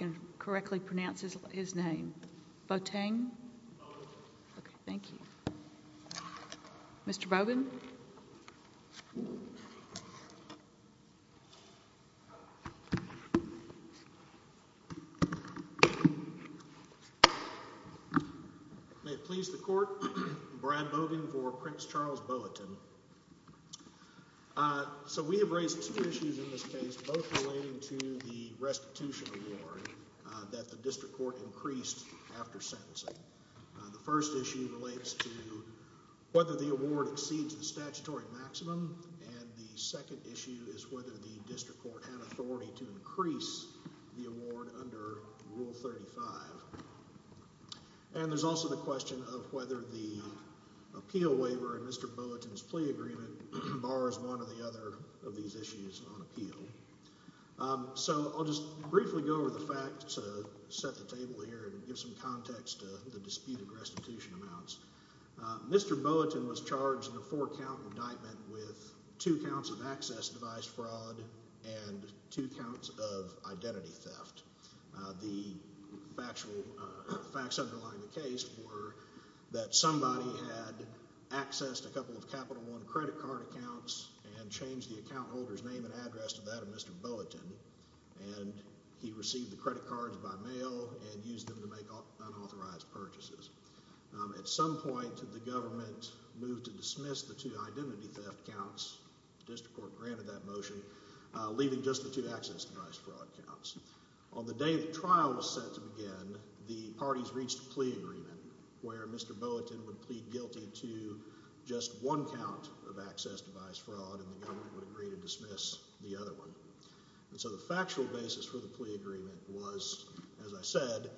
May it please the court, I'm Brad Bogan for Prince Charles Bulletin. Uh, so we have raised two issues in this case, both relating to the restitution award that the district court increased after sentencing. The first issue relates to whether the award exceeds the statutory maximum and the second issue is whether the district court had authority to increase the award under Rule 35. And there's also the question of whether the appeal waiver in Mr. Boateng's plea agreement bars one or the other of these issues on appeal. Um, so I'll just briefly go over the facts to set the table here and give some context to the disputed restitution amounts. Mr. Boateng was charged in a four count indictment with two counts of access device fraud and two counts of identity theft. Uh, the factual, uh, facts underlying the case were that somebody had accessed a couple of Capital One credit card accounts and changed the account holder's name and address to that of Mr. Boateng and he received the credit cards by mail and used them to make unauthorized purchases. Um, at some point the government moved to dismiss the two identity theft counts. The district court granted that motion, uh, leaving just the two access device fraud counts. On the day the trial was set to begin, the parties reached a plea agreement where Mr. Boateng would plead guilty to just one count of access device fraud and the government would agree to dismiss the other one. And so the factual basis for the plea agreement was, as I said,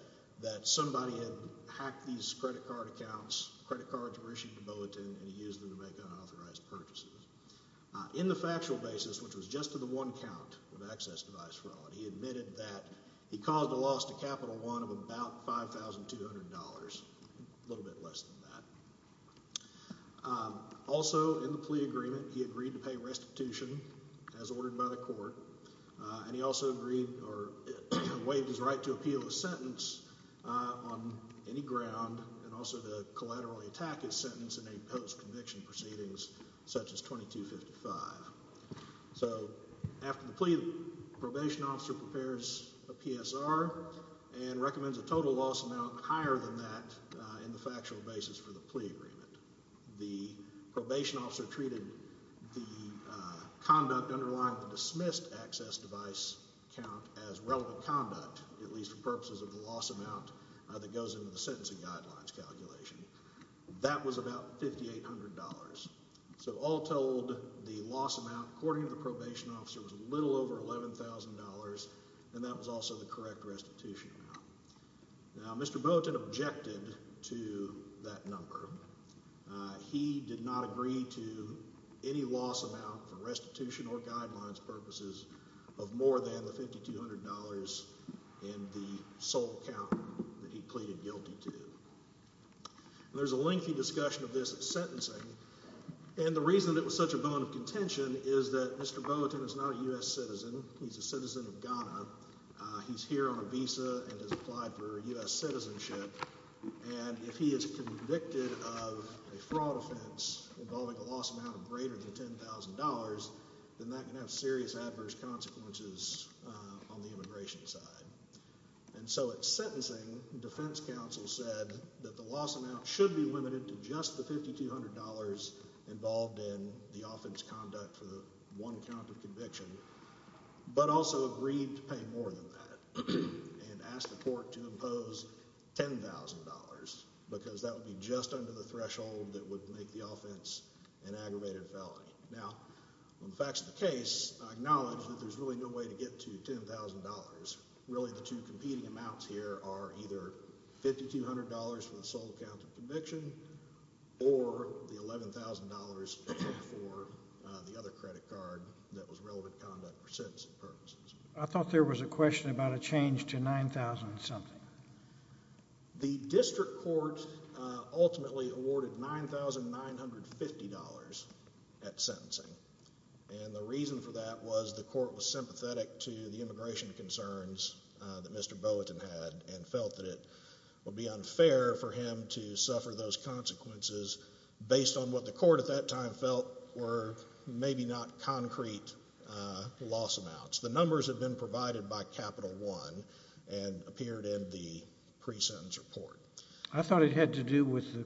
that somebody had hacked these credit card accounts, credit cards were issued to Boateng and he used them to make unauthorized purchases. Uh, in the factual basis, which was just to the one count of access device fraud, he admitted that he caused a loss to Capital One of about $5,200, a little bit less than that. Um, also in the plea agreement, he agreed to pay restitution as ordered by the court, uh, and he also agreed or waived his right to appeal the sentence, uh, on any ground and also to collaterally attack his sentence in a post-conviction proceedings such as 2255. So after the plea, the probation officer prepares a PSR and recommends a total loss amount higher than that, uh, in the factual basis for the plea agreement. The probation officer treated the, uh, conduct underlying the dismissed access device count as relevant conduct, at least for purposes of the loss amount, uh, that goes into the sentencing guidelines calculation. That was about $5,800. So all told, the loss amount, according to the probation officer, was a little over $11,000 and that was also the correct restitution amount. Now, Mr. Boateng objected to that number. Uh, he did not agree to any loss amount for restitution or guidelines purposes of more than the $5,200 in the sole count that he pleaded guilty to. There's a lengthy discussion of this at sentencing and the reason it was such a bone of contention is that Mr. Boateng is not a U.S. citizen. He's a citizen of Ghana. Uh, he's here on a visa and has applied for U.S. citizenship and if he is convicted of a fraud offense involving a loss amount of greater than $10,000, then that can have serious adverse consequences, uh, on the immigration side. And so at sentencing, defense counsel said that the loss amount should be limited to just the $5,200 involved in the offense conduct for the one count of conviction, but also agreed to pay more than that and asked the court to impose $10,000 because that would be just under the threshold that would make the offense an aggravated felony. Now, on the facts of the case, I acknowledge that there's really no way to get to $10,000. Really, the two competing amounts here are either $5,200 for the sole count of conviction or the $11,000 for, uh, the other credit card that was relevant conduct for sentencing purposes. I thought there was a question about a change to $9,000 and something. The district court, uh, ultimately awarded $9,950 at sentencing. And the reason for that was the court was sympathetic to the immigration concerns, uh, that Mr. Boateng had and felt that it would be unfair for him to suffer those consequences based on what the court at that time felt were maybe not concrete, uh, loss amounts. The numbers had been provided by Capital One and appeared in the pre-sentence report. I thought it had to do with the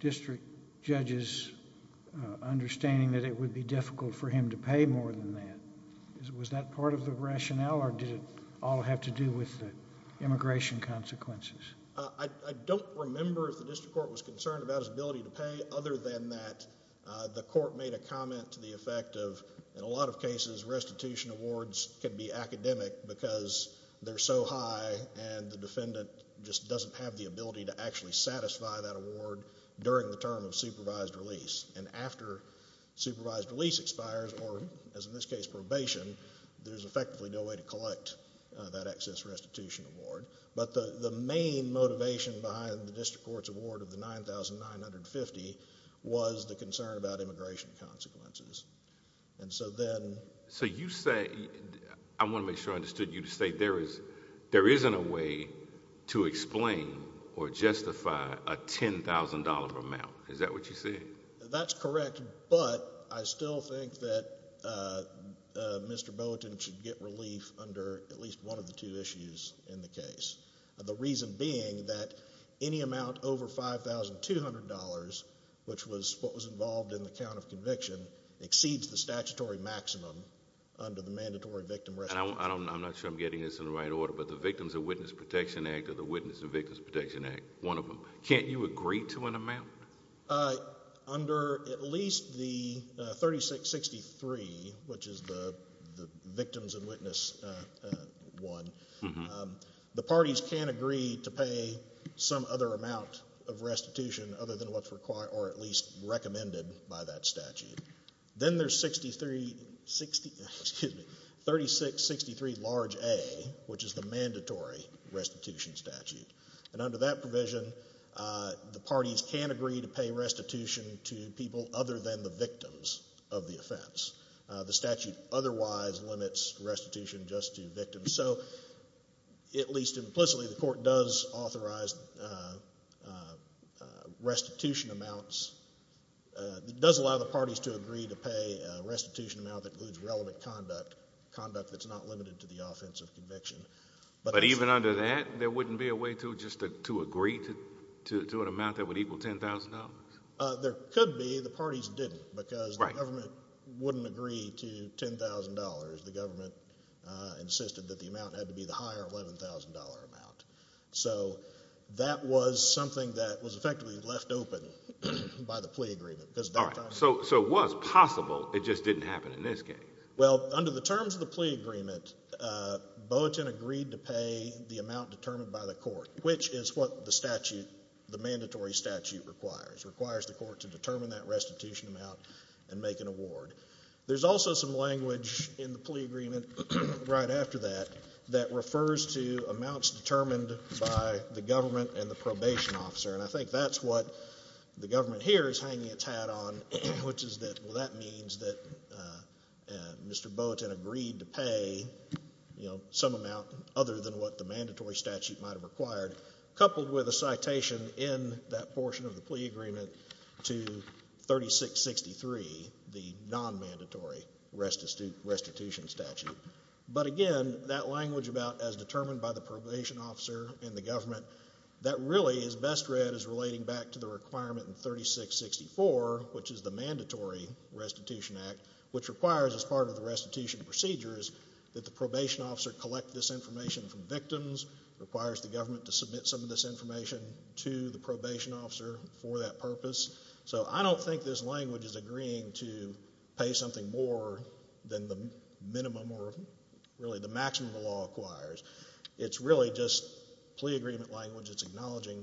district judge's, uh, understanding that it would be difficult for him to pay more than that. Was that part of the rationale or did it all have to do with the immigration consequences? Uh, I don't remember if the district court was concerned about his ability to pay. Other than that, uh, the court made a comment to the effect of, in a lot of cases, restitution awards can be academic because they're so high and the defendant just doesn't have the ability to actually satisfy that award during the term of supervised release. And after supervised release expires, or as in this case, probation, there's effectively no way to collect, uh, that excess restitution award. But the, the main motivation behind the district court's award of the $9,950 was the concern about immigration consequences. And so then... So you say, I want to make sure I understood you to say there is, there isn't a way to explain or justify a $10,000 amount. Is that what you said? That's correct. But I still think that, uh, uh, Mr. Bulletin should get relief under at least one of the two issues in the case. The reason being that any amount over $5,200, which was what was involved in the count of conviction, exceeds the statutory maximum under the mandatory victim restitution. And I don't, I'm not sure I'm getting this in the right order, but the Victims and Witness Protection Act or the Witness and Victims Protection Act, one of them, can't you agree to an amount? Uh, under at least the, uh, 3663, which is the, the Victims and Witness, uh, uh, one, um, the parties can agree to pay some other amount of restitution other than what's required or at least recommended by that statute. Then there's 63, 60, excuse me, 3663 large A, which is the mandatory restitution statute. And under that provision, uh, the parties can agree to pay restitution to people other than the victims of the offense. Uh, the statute otherwise limits restitution just to victims. So, at least implicitly, the court does authorize, uh, uh, restitution amounts, uh, does allow the parties to agree to pay a restitution amount that includes relevant conduct, conduct that's not limited to the offense of conviction. But even under that, there wouldn't be a way to just to agree to an amount that would equal $10,000? Uh, there could be. The parties didn't. Because the government wouldn't agree to $10,000. The government, uh, insisted that the amount had to be the higher $11,000 amount. So, that was something that was effectively left open by the plea agreement. All right. So, so it was possible, it just didn't happen in this case? Well, under the terms of the plea agreement, uh, Boaten agreed to pay the amount determined by the court, which is what the statute, the mandatory statute requires. Requires the court to determine that restitution amount and make an award. There's also some language in the plea agreement right after that that refers to amounts determined by the government and the probation officer. And I think that's what the government here is hanging its hat on, which is that, well, that means that, uh, Mr. Boaten agreed to pay, you know, some amount other than what the mandatory statute might have required, coupled with a citation in that portion of the plea agreement to 3663, the non-mandatory restitution statute. But again, that language about, as determined by the probation officer and the government, that really is best read as relating back to the requirement in 3664, which is the mandatory restitution act, which requires, as part of the restitution procedures, that the probation officer collect this information from victims, requires the government to submit some of this information to the probation officer for that purpose. So I don't think this language is agreeing to pay something more than the minimum or really the maximum the law acquires. It's really just plea agreement language that's acknowledging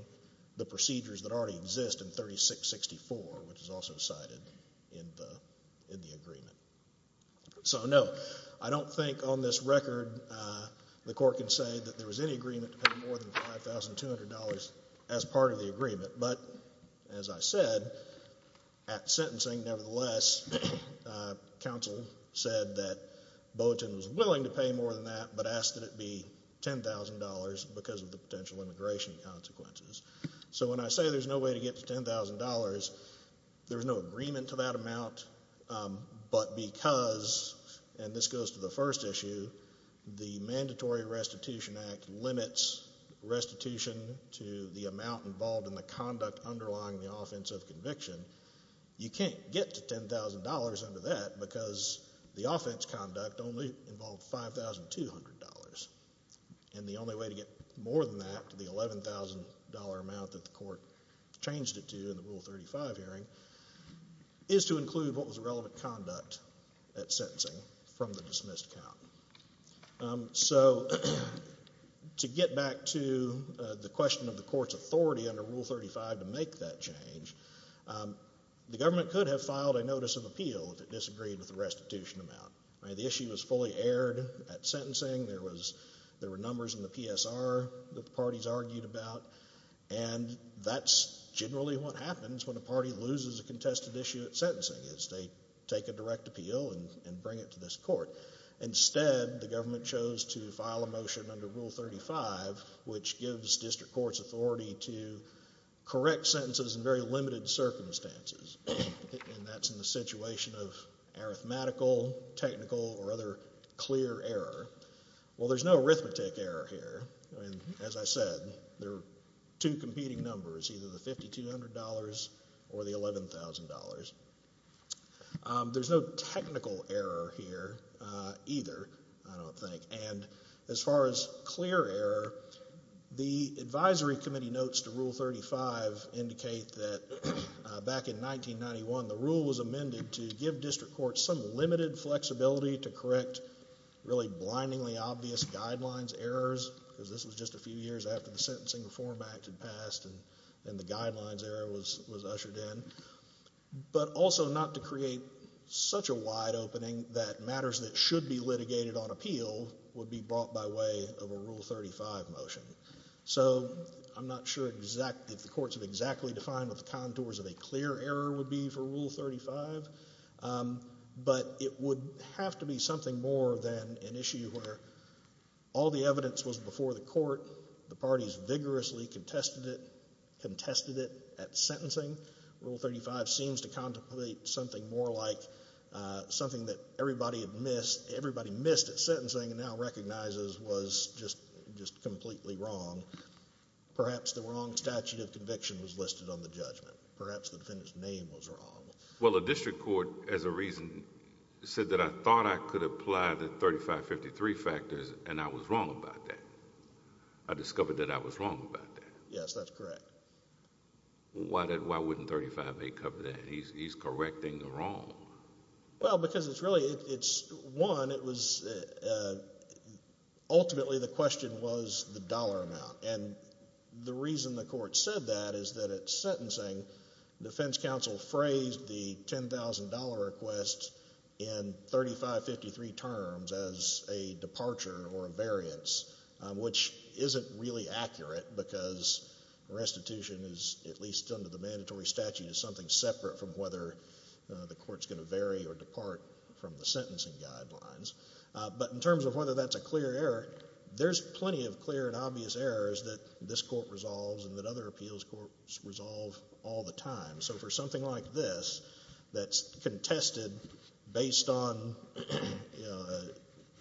the procedures that already exist in 3664, which is also cited in the agreement. So, no, I don't think on this record the court can say that there was any agreement to pay more than $5,200 as part of the agreement. But, as I said, at sentencing, nevertheless, counsel said that Boateng was willing to pay more than that but asked that it be $10,000 because of the potential immigration consequences. So when I say there's no way to get to $10,000, there's no agreement to that amount, but because, and this goes to the first issue, the Mandatory Restitution Act limits restitution to the amount involved in the conduct underlying the offense of conviction. You can't get to $10,000 under that because the offense conduct only involved $5,200. And the only way to get more than that, to the $11,000 amount that the court changed it to in the Rule 35 hearing, is to include what was relevant conduct at sentencing from the dismissed count. So, to get back to the question of the court's authority under Rule 35 to make that change, the government could have filed a notice of appeal if it disagreed with the restitution amount. The issue was fully aired at sentencing. There were numbers in the PSR that the parties argued about. And that's generally what happens when a party loses a contested issue at sentencing, is they take a direct appeal and bring it to this court. Instead, the government chose to file a motion under Rule 35, which gives district courts authority to correct sentences in very limited circumstances. And that's in the situation of arithmetical, technical, or other clear error. Well, there's no arithmetic error here. As I said, there are two competing numbers, either the $5,200 or the $11,000. There's no technical error here either, I don't think. And as far as clear error, the advisory committee notes to Rule 35 indicate that back in 1991, the rule was amended to give district courts some limited flexibility to correct really blindingly obvious guidelines, errors, because this was just a few years after the Sentencing Reform Act had passed and the guidelines era was ushered in, but also not to create such a wide opening that matters that should be litigated on appeal would be brought by way of a Rule 35 motion. So I'm not sure if the courts have exactly defined what the contours of a clear error would be for Rule 35, but it would have to be something more than an issue where all the evidence was before the court, the parties vigorously contested it at sentencing. Rule 35 seems to contemplate something more like something that everybody missed at sentencing and now recognizes was just completely wrong. Perhaps the wrong statute of conviction was listed on the judgment. Perhaps the defendant's name was wrong. Well, a district court, as a reason, said that I thought I could apply the 3553 factors and I was wrong about that. I discovered that I was wrong about that. Yes, that's correct. Why wouldn't 35A cover that? He's correcting the wrong. Well, because it's really, it's one, it was, ultimately the question was the dollar amount, and the reason the court said that is that at sentencing defense counsel phrased the $10,000 request in 3553 terms as a departure or a variance, which isn't really accurate because restitution is, at least under the mandatory statute, is something separate from whether the court's going to vary or depart from the sentencing guidelines. But in terms of whether that's a clear error, there's plenty of clear and obvious errors that this court resolves and that other appeals courts resolve all the time. So for something like this that's contested based on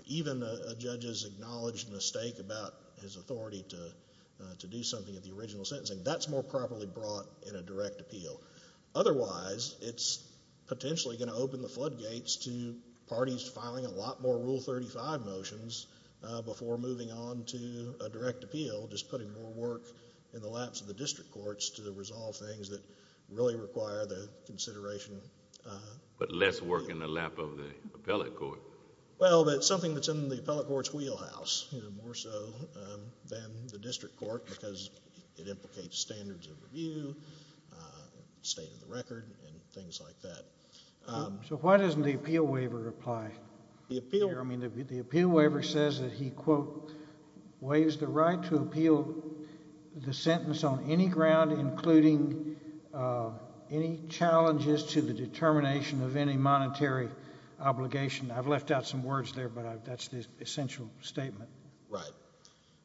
even a judge's acknowledged mistake about his authority to do something at the original sentencing, that's more properly brought in a direct appeal. Otherwise, it's potentially going to open the floodgates to parties filing a lot more Rule 35 motions before moving on to a direct appeal, just putting more work in the laps of the district courts to resolve things that really require the consideration. But less work in the lap of the appellate court. Well, that's something that's in the appellate court's wheelhouse, more so than the district court because it implicates standards of review, state of the record, and things like that. So why doesn't the appeal waiver apply? The appeal waiver says that he, quote, waives the right to appeal the sentence on any ground including any challenges to the determination of any monetary obligation. I've left out some words there, but that's the essential statement. Right.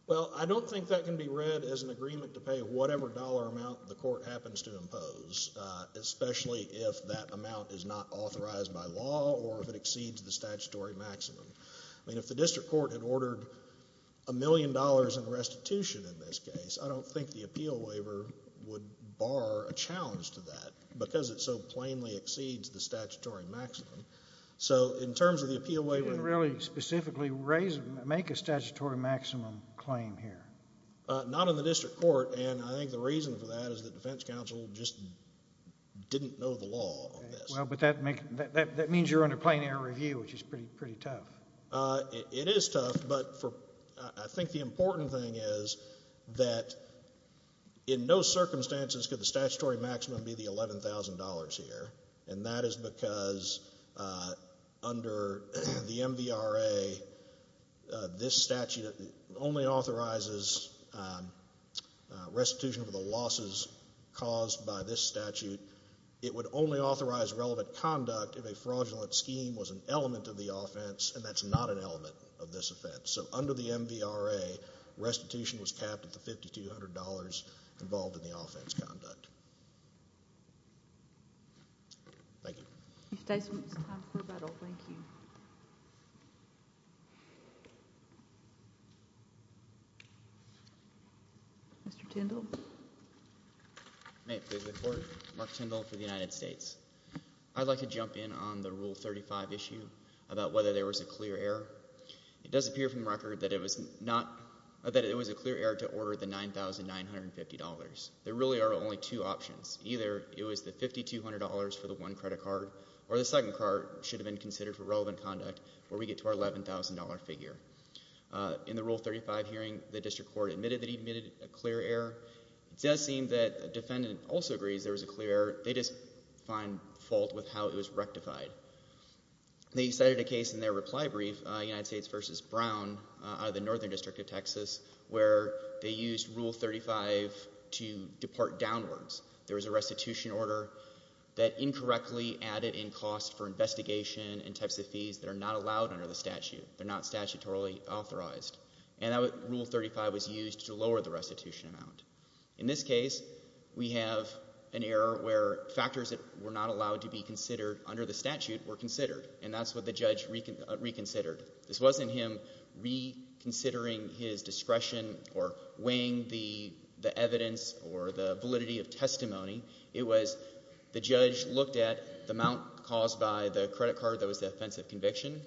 Well, I don't think that can be read as an agreement to pay whatever dollar amount the court happens to impose, especially if that amount is not authorized by law or if it exceeds the statutory maximum. I mean, if the district court had ordered a million dollars in restitution in this case, I don't think the appeal waiver would bar a challenge to that because it so plainly exceeds the statutory maximum. So in terms of the appeal waiver... You didn't really specifically make a statutory maximum claim here. Not in the district court, and I think the reason for that is the defense counsel just didn't know the law on this. Well, but that means you're under plain air review, which is pretty tough. It is tough, but I think the important thing is that in no circumstances could the statutory maximum be the $11,000 here, and that is because under the MVRA, this statute only authorizes restitution for the losses caused by this statute. It would only authorize relevant conduct if a fraudulent scheme was an element of the offense, and that's not an element of this offense. So under the MVRA, restitution was capped at the $5,200 involved in the offense conduct. Thank you. If there's time for rebuttal, thank you. Mr. Tindall. May it please the Court. Mark Tindall for the United States. I'd like to jump in on the Rule 35 issue about whether there was a clear error. It does appear from record that it was not, that it was a clear error to order the $9,950. There really are only two options. Either it was the $5,200 for the one credit card, or the second card should have been considered for relevant conduct where we get to our $11,000 figure. In the Rule 35 hearing, the district court admitted that he'd made a clear error. It does seem that the defendant also agrees there was a clear error. They just find fault with how it was rectified. They cited a case in their reply brief, United States v. Brown, out of the Northern District of Texas, where they used Rule 35 to depart downwards. There was a restitution order that incorrectly added in cost for investigation and types of fees that are not allowed under the statute. They're not statutorily authorized. And Rule 35 was used to lower the restitution amount. In this case, we have an error where factors that were not allowed to be considered under the statute were considered, and that's what the judge reconsidered. This wasn't him reconsidering his discretion or weighing the evidence or the validity of testimony. It was the judge looked at the amount caused by the credit card that was the offensive conviction,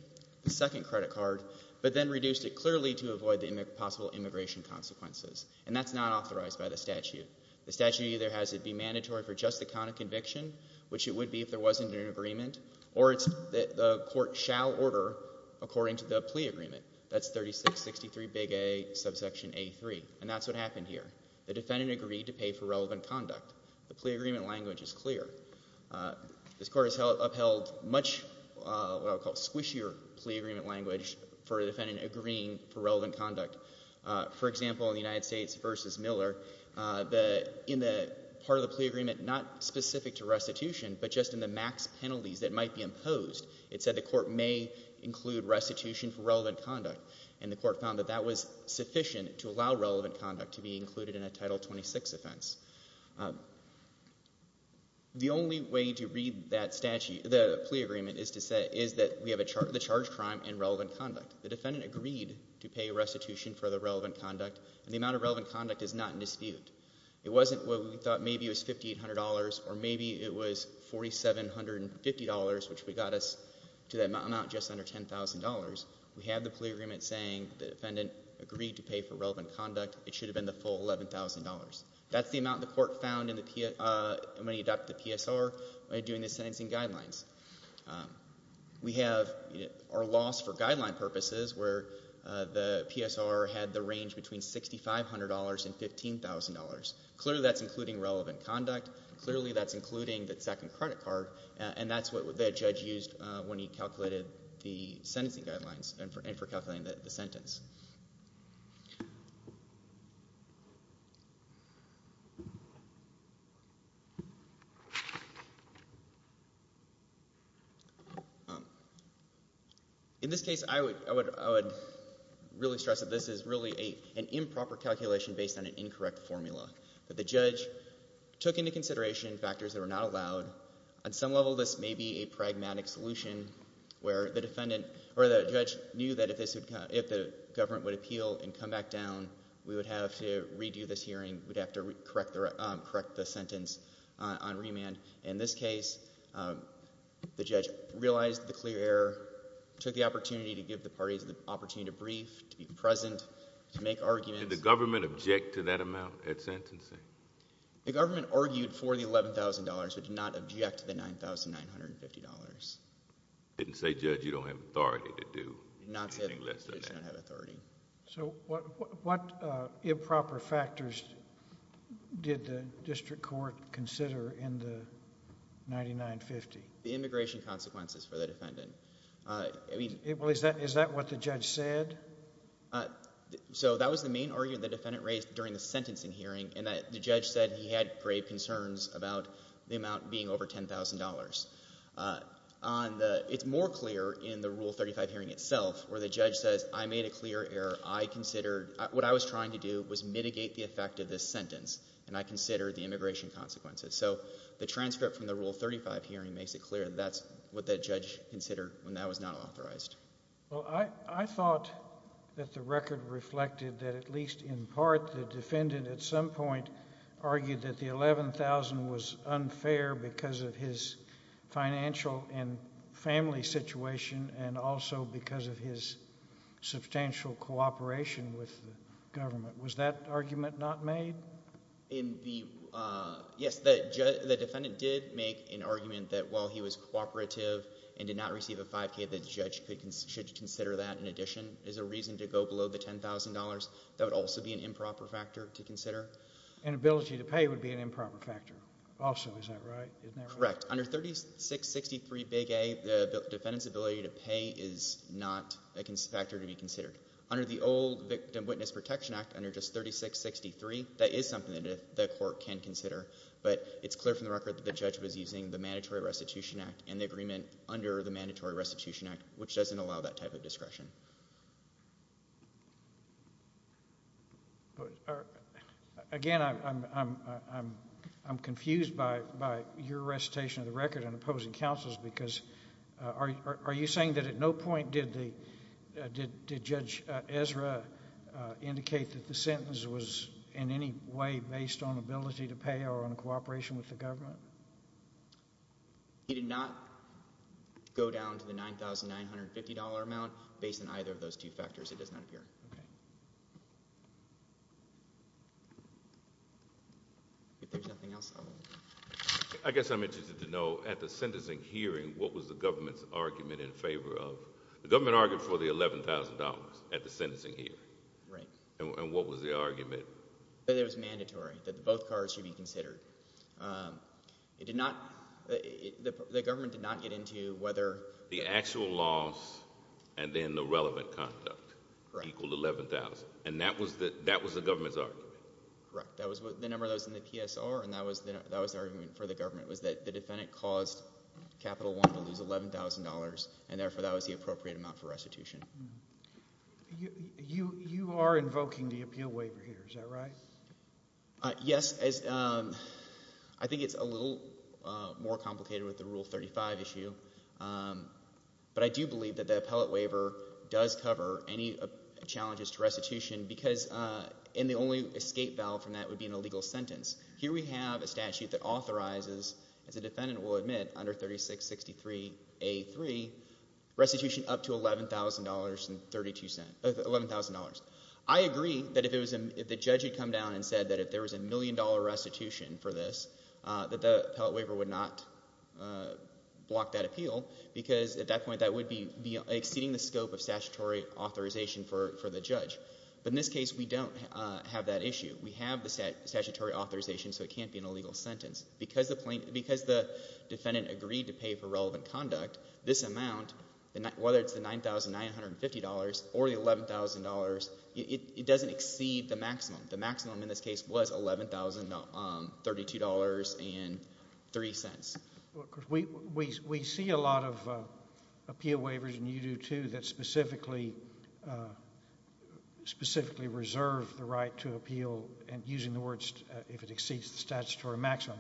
the second credit card, but then reduced it clearly to avoid the possible immigration consequences. And that's not authorized by the statute. The statute either has it be mandatory for just the count of conviction, which it would be if there wasn't an agreement, or the court shall order according to the plea agreement. That's 3663 Big A, subsection A3. And that's what happened here. The defendant agreed to pay for relevant conduct. The plea agreement language is clear. This court has upheld much, what I would call, squishier plea agreement language for a defendant agreeing for relevant conduct. For example, in the United States v. Miller, in the part of the plea agreement not specific to restitution, but just in the max penalties that might be imposed, it said the court may include restitution for relevant conduct, and the court found that that was sufficient to allow relevant conduct to be included in a Title 26 offense. The only way to read that statute, the plea agreement, is that we have the charged crime and relevant conduct. The defendant agreed to pay restitution for the relevant conduct, and the amount of relevant conduct is not in dispute. It wasn't what we thought, maybe it was $5,800, or maybe it was $4,750, which got us to that amount just under $10,000. We have the plea agreement saying the defendant agreed to pay for relevant conduct. It should have been the full $11,000. That's the amount the court found when he adopted the PSR by doing the sentencing guidelines. We have our loss for guideline purposes where the PSR had the range between $6,500 and $15,000. Clearly, that's including relevant conduct. Clearly, that's including the second credit card, and that's what the judge used when he calculated the sentencing guidelines and for calculating the sentence. In this case, I would really stress that this is really an improper calculation based on an incorrect formula. The judge took into consideration factors that were not allowed. On some level, this may be a pragmatic solution where the judge knew that if the government would appeal and come back down, we would have to redo this hearing, we'd have to correct the sentence on remand. In this case, the judge realized the clear error, took the opportunity to give the parties the opportunity to brief, to be present, to make arguments. Did the government object to that amount at sentencing? The government argued for the $11,000 but did not object to the $9,950. Didn't say, Judge, you don't have authority to do anything less than that. Did not say, Judge, you don't have authority. What improper factors did the district court consider in the $9,950? The immigration consequences for the defendant. Is that what the judge said? That was the main argument the defendant raised during the sentencing hearing. The judge said he had grave concerns about the amount being over $10,000. It's more clear in the Rule 35 hearing itself where the judge says, I made a clear error. What I was trying to do was mitigate the effect of this sentence and I considered the immigration consequences. So the transcript from the Rule 35 hearing makes it clear that's what the judge considered when that was not authorized. Well, I thought that the record reflected that at least in part the defendant at some point argued that the $11,000 was unfair because of his financial and family situation and also because of his substantial cooperation with the government. Was that argument not made? Yes, the defendant did make an argument that while he was cooperative and did not receive a 5K, the judge should consider that in addition as a reason to go below the $10,000. That would also be an improper factor to consider. And ability to pay would be an improper factor also. Is that right? Correct. is not a factor to be considered. Under the old Victim Witness Protection Act, under just 3663, that is something that the court can consider. But it's clear from the record that the judge was using the Mandatory Restitution Act and the agreement under the Mandatory Restitution Act, which doesn't allow that type of discretion. Again, I'm confused by your recitation of the record and opposing counsel's because are you saying that at no point did Judge Ezra indicate that the sentence was in any way based on ability to pay or on cooperation with the government? He did not go down to the $9,950 amount based on either of those two factors. It does not appear. If there's nothing else, I'll move on. I guess I'm interested to know at the sentencing hearing what was the government's argument in favor of... The government argued for the $11,000 at the sentencing hearing. Right. And what was the argument? That it was mandatory, that both cards should be considered. The government did not get into whether... The actual loss and then the relevant conduct equal $11,000. And that was the government's argument. Correct. That was the number that was in the PSR, and that was the argument for the government, was that the defendant caused Capital One to lose $11,000 and therefore that was the appropriate amount for restitution. You are invoking the appeal waiver here, is that right? Yes. I think it's a little more complicated with the Rule 35 issue. But I do believe that the appellate waiver does cover any challenges to restitution because the only escape valve from that would be an illegal sentence. Here we have a statute that authorizes, as the defendant will admit under 3663A3, restitution up to $11,000. I agree that if the judge had come down and said that if there was a million dollar restitution for this, that the appellate waiver would not block that appeal because at that point that would be exceeding the scope of statutory authorization for the judge. But in this case we don't have that issue. We have the statutory authorization so it can't be an illegal sentence. Because the defendant agreed to pay for relevant conduct, this amount, whether it's the $9,950 or the $11,000, it doesn't exceed the maximum. The maximum in this case was $11,032.03. We see a lot of appeal waivers, and you do too, that specifically reserve the right to appeal using the words if it exceeds the statutory maximum.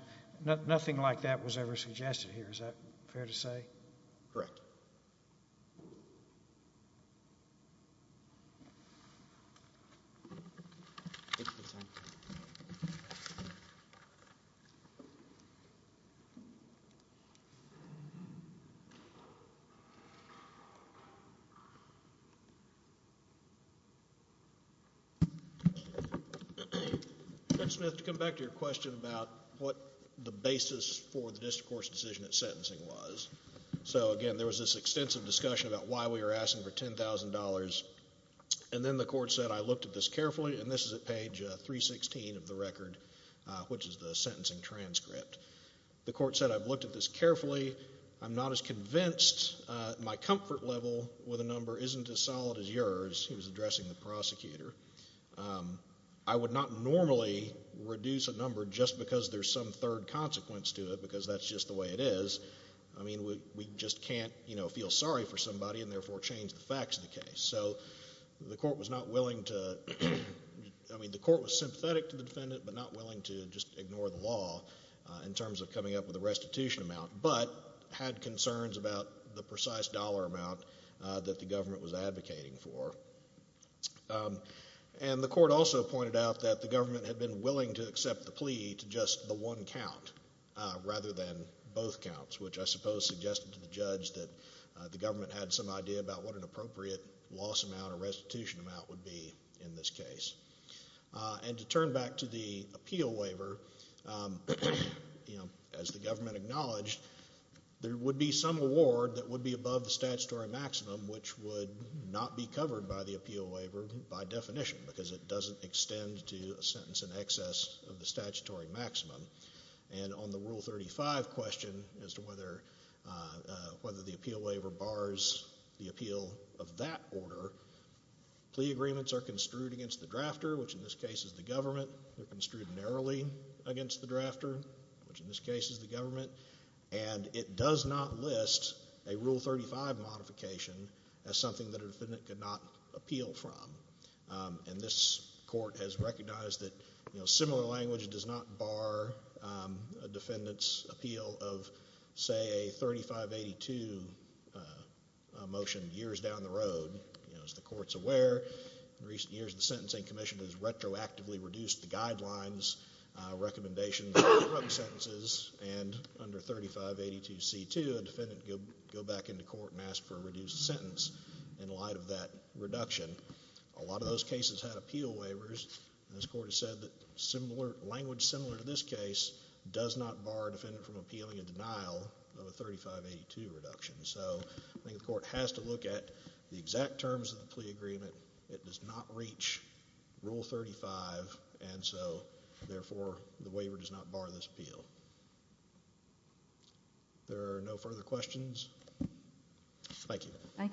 Nothing like that was ever suggested here. Is that fair to say? Correct. Mr. Smith, to come back to your question about what the basis for the district court's decision of sentencing was. Again, there was this extensive discussion about why we were asking for $10,000, and then the court said I looked at this carefully, and this is at page 316 of the record, which is the sentencing transcript. The court said I've looked at this carefully. I'm not as convinced. My comfort level with a number isn't as solid as yours. He was addressing the prosecutor. I would not normally reduce a number just because there's some third consequence to it because that's just the way it is. I mean we just can't feel sorry for somebody and therefore change the facts of the case. So the court was not willing to, I mean the court was sympathetic to the defendant but not willing to just ignore the law in terms of coming up with a restitution amount. But had concerns about the precise dollar amount that the government was advocating for. And the court also pointed out that the government had been willing to accept the plea to just the one count rather than both counts, which I suppose suggested to the judge that the government had some idea about what an appropriate loss amount or restitution amount would be in this case. And to turn back to the appeal waiver, as the government acknowledged, there would be some award that would be above the statutory maximum which would not be covered by the appeal waiver by definition because it doesn't extend to a sentence in excess of the statutory maximum. And on the Rule 35 question as to whether the appeal waiver bars the appeal of that order, plea agreements are construed against the drafter, which in this case is the government. They're construed narrowly against the drafter, which in this case is the government. And it does not list a Rule 35 modification as something that a defendant could not appeal from. And this court has recognized that similar language does not bar a defendant's appeal of, say, a 3582 motion years down the road. As the court's aware, in recent years, the Sentencing Commission has retroactively reduced the guidelines, recommendations, and drug sentences, and under 3582C2, a defendant could go back into court and ask for a reduced sentence in light of that reduction. A lot of those cases had appeal waivers. And this court has said that language similar to this case does not bar a defendant from appealing a denial of a 3582 reduction. So I think the court has to look at the exact terms of the plea agreement. It does not reach Rule 35, and so therefore the waiver does not bar this appeal. There are no further questions. Thank you. Thank you.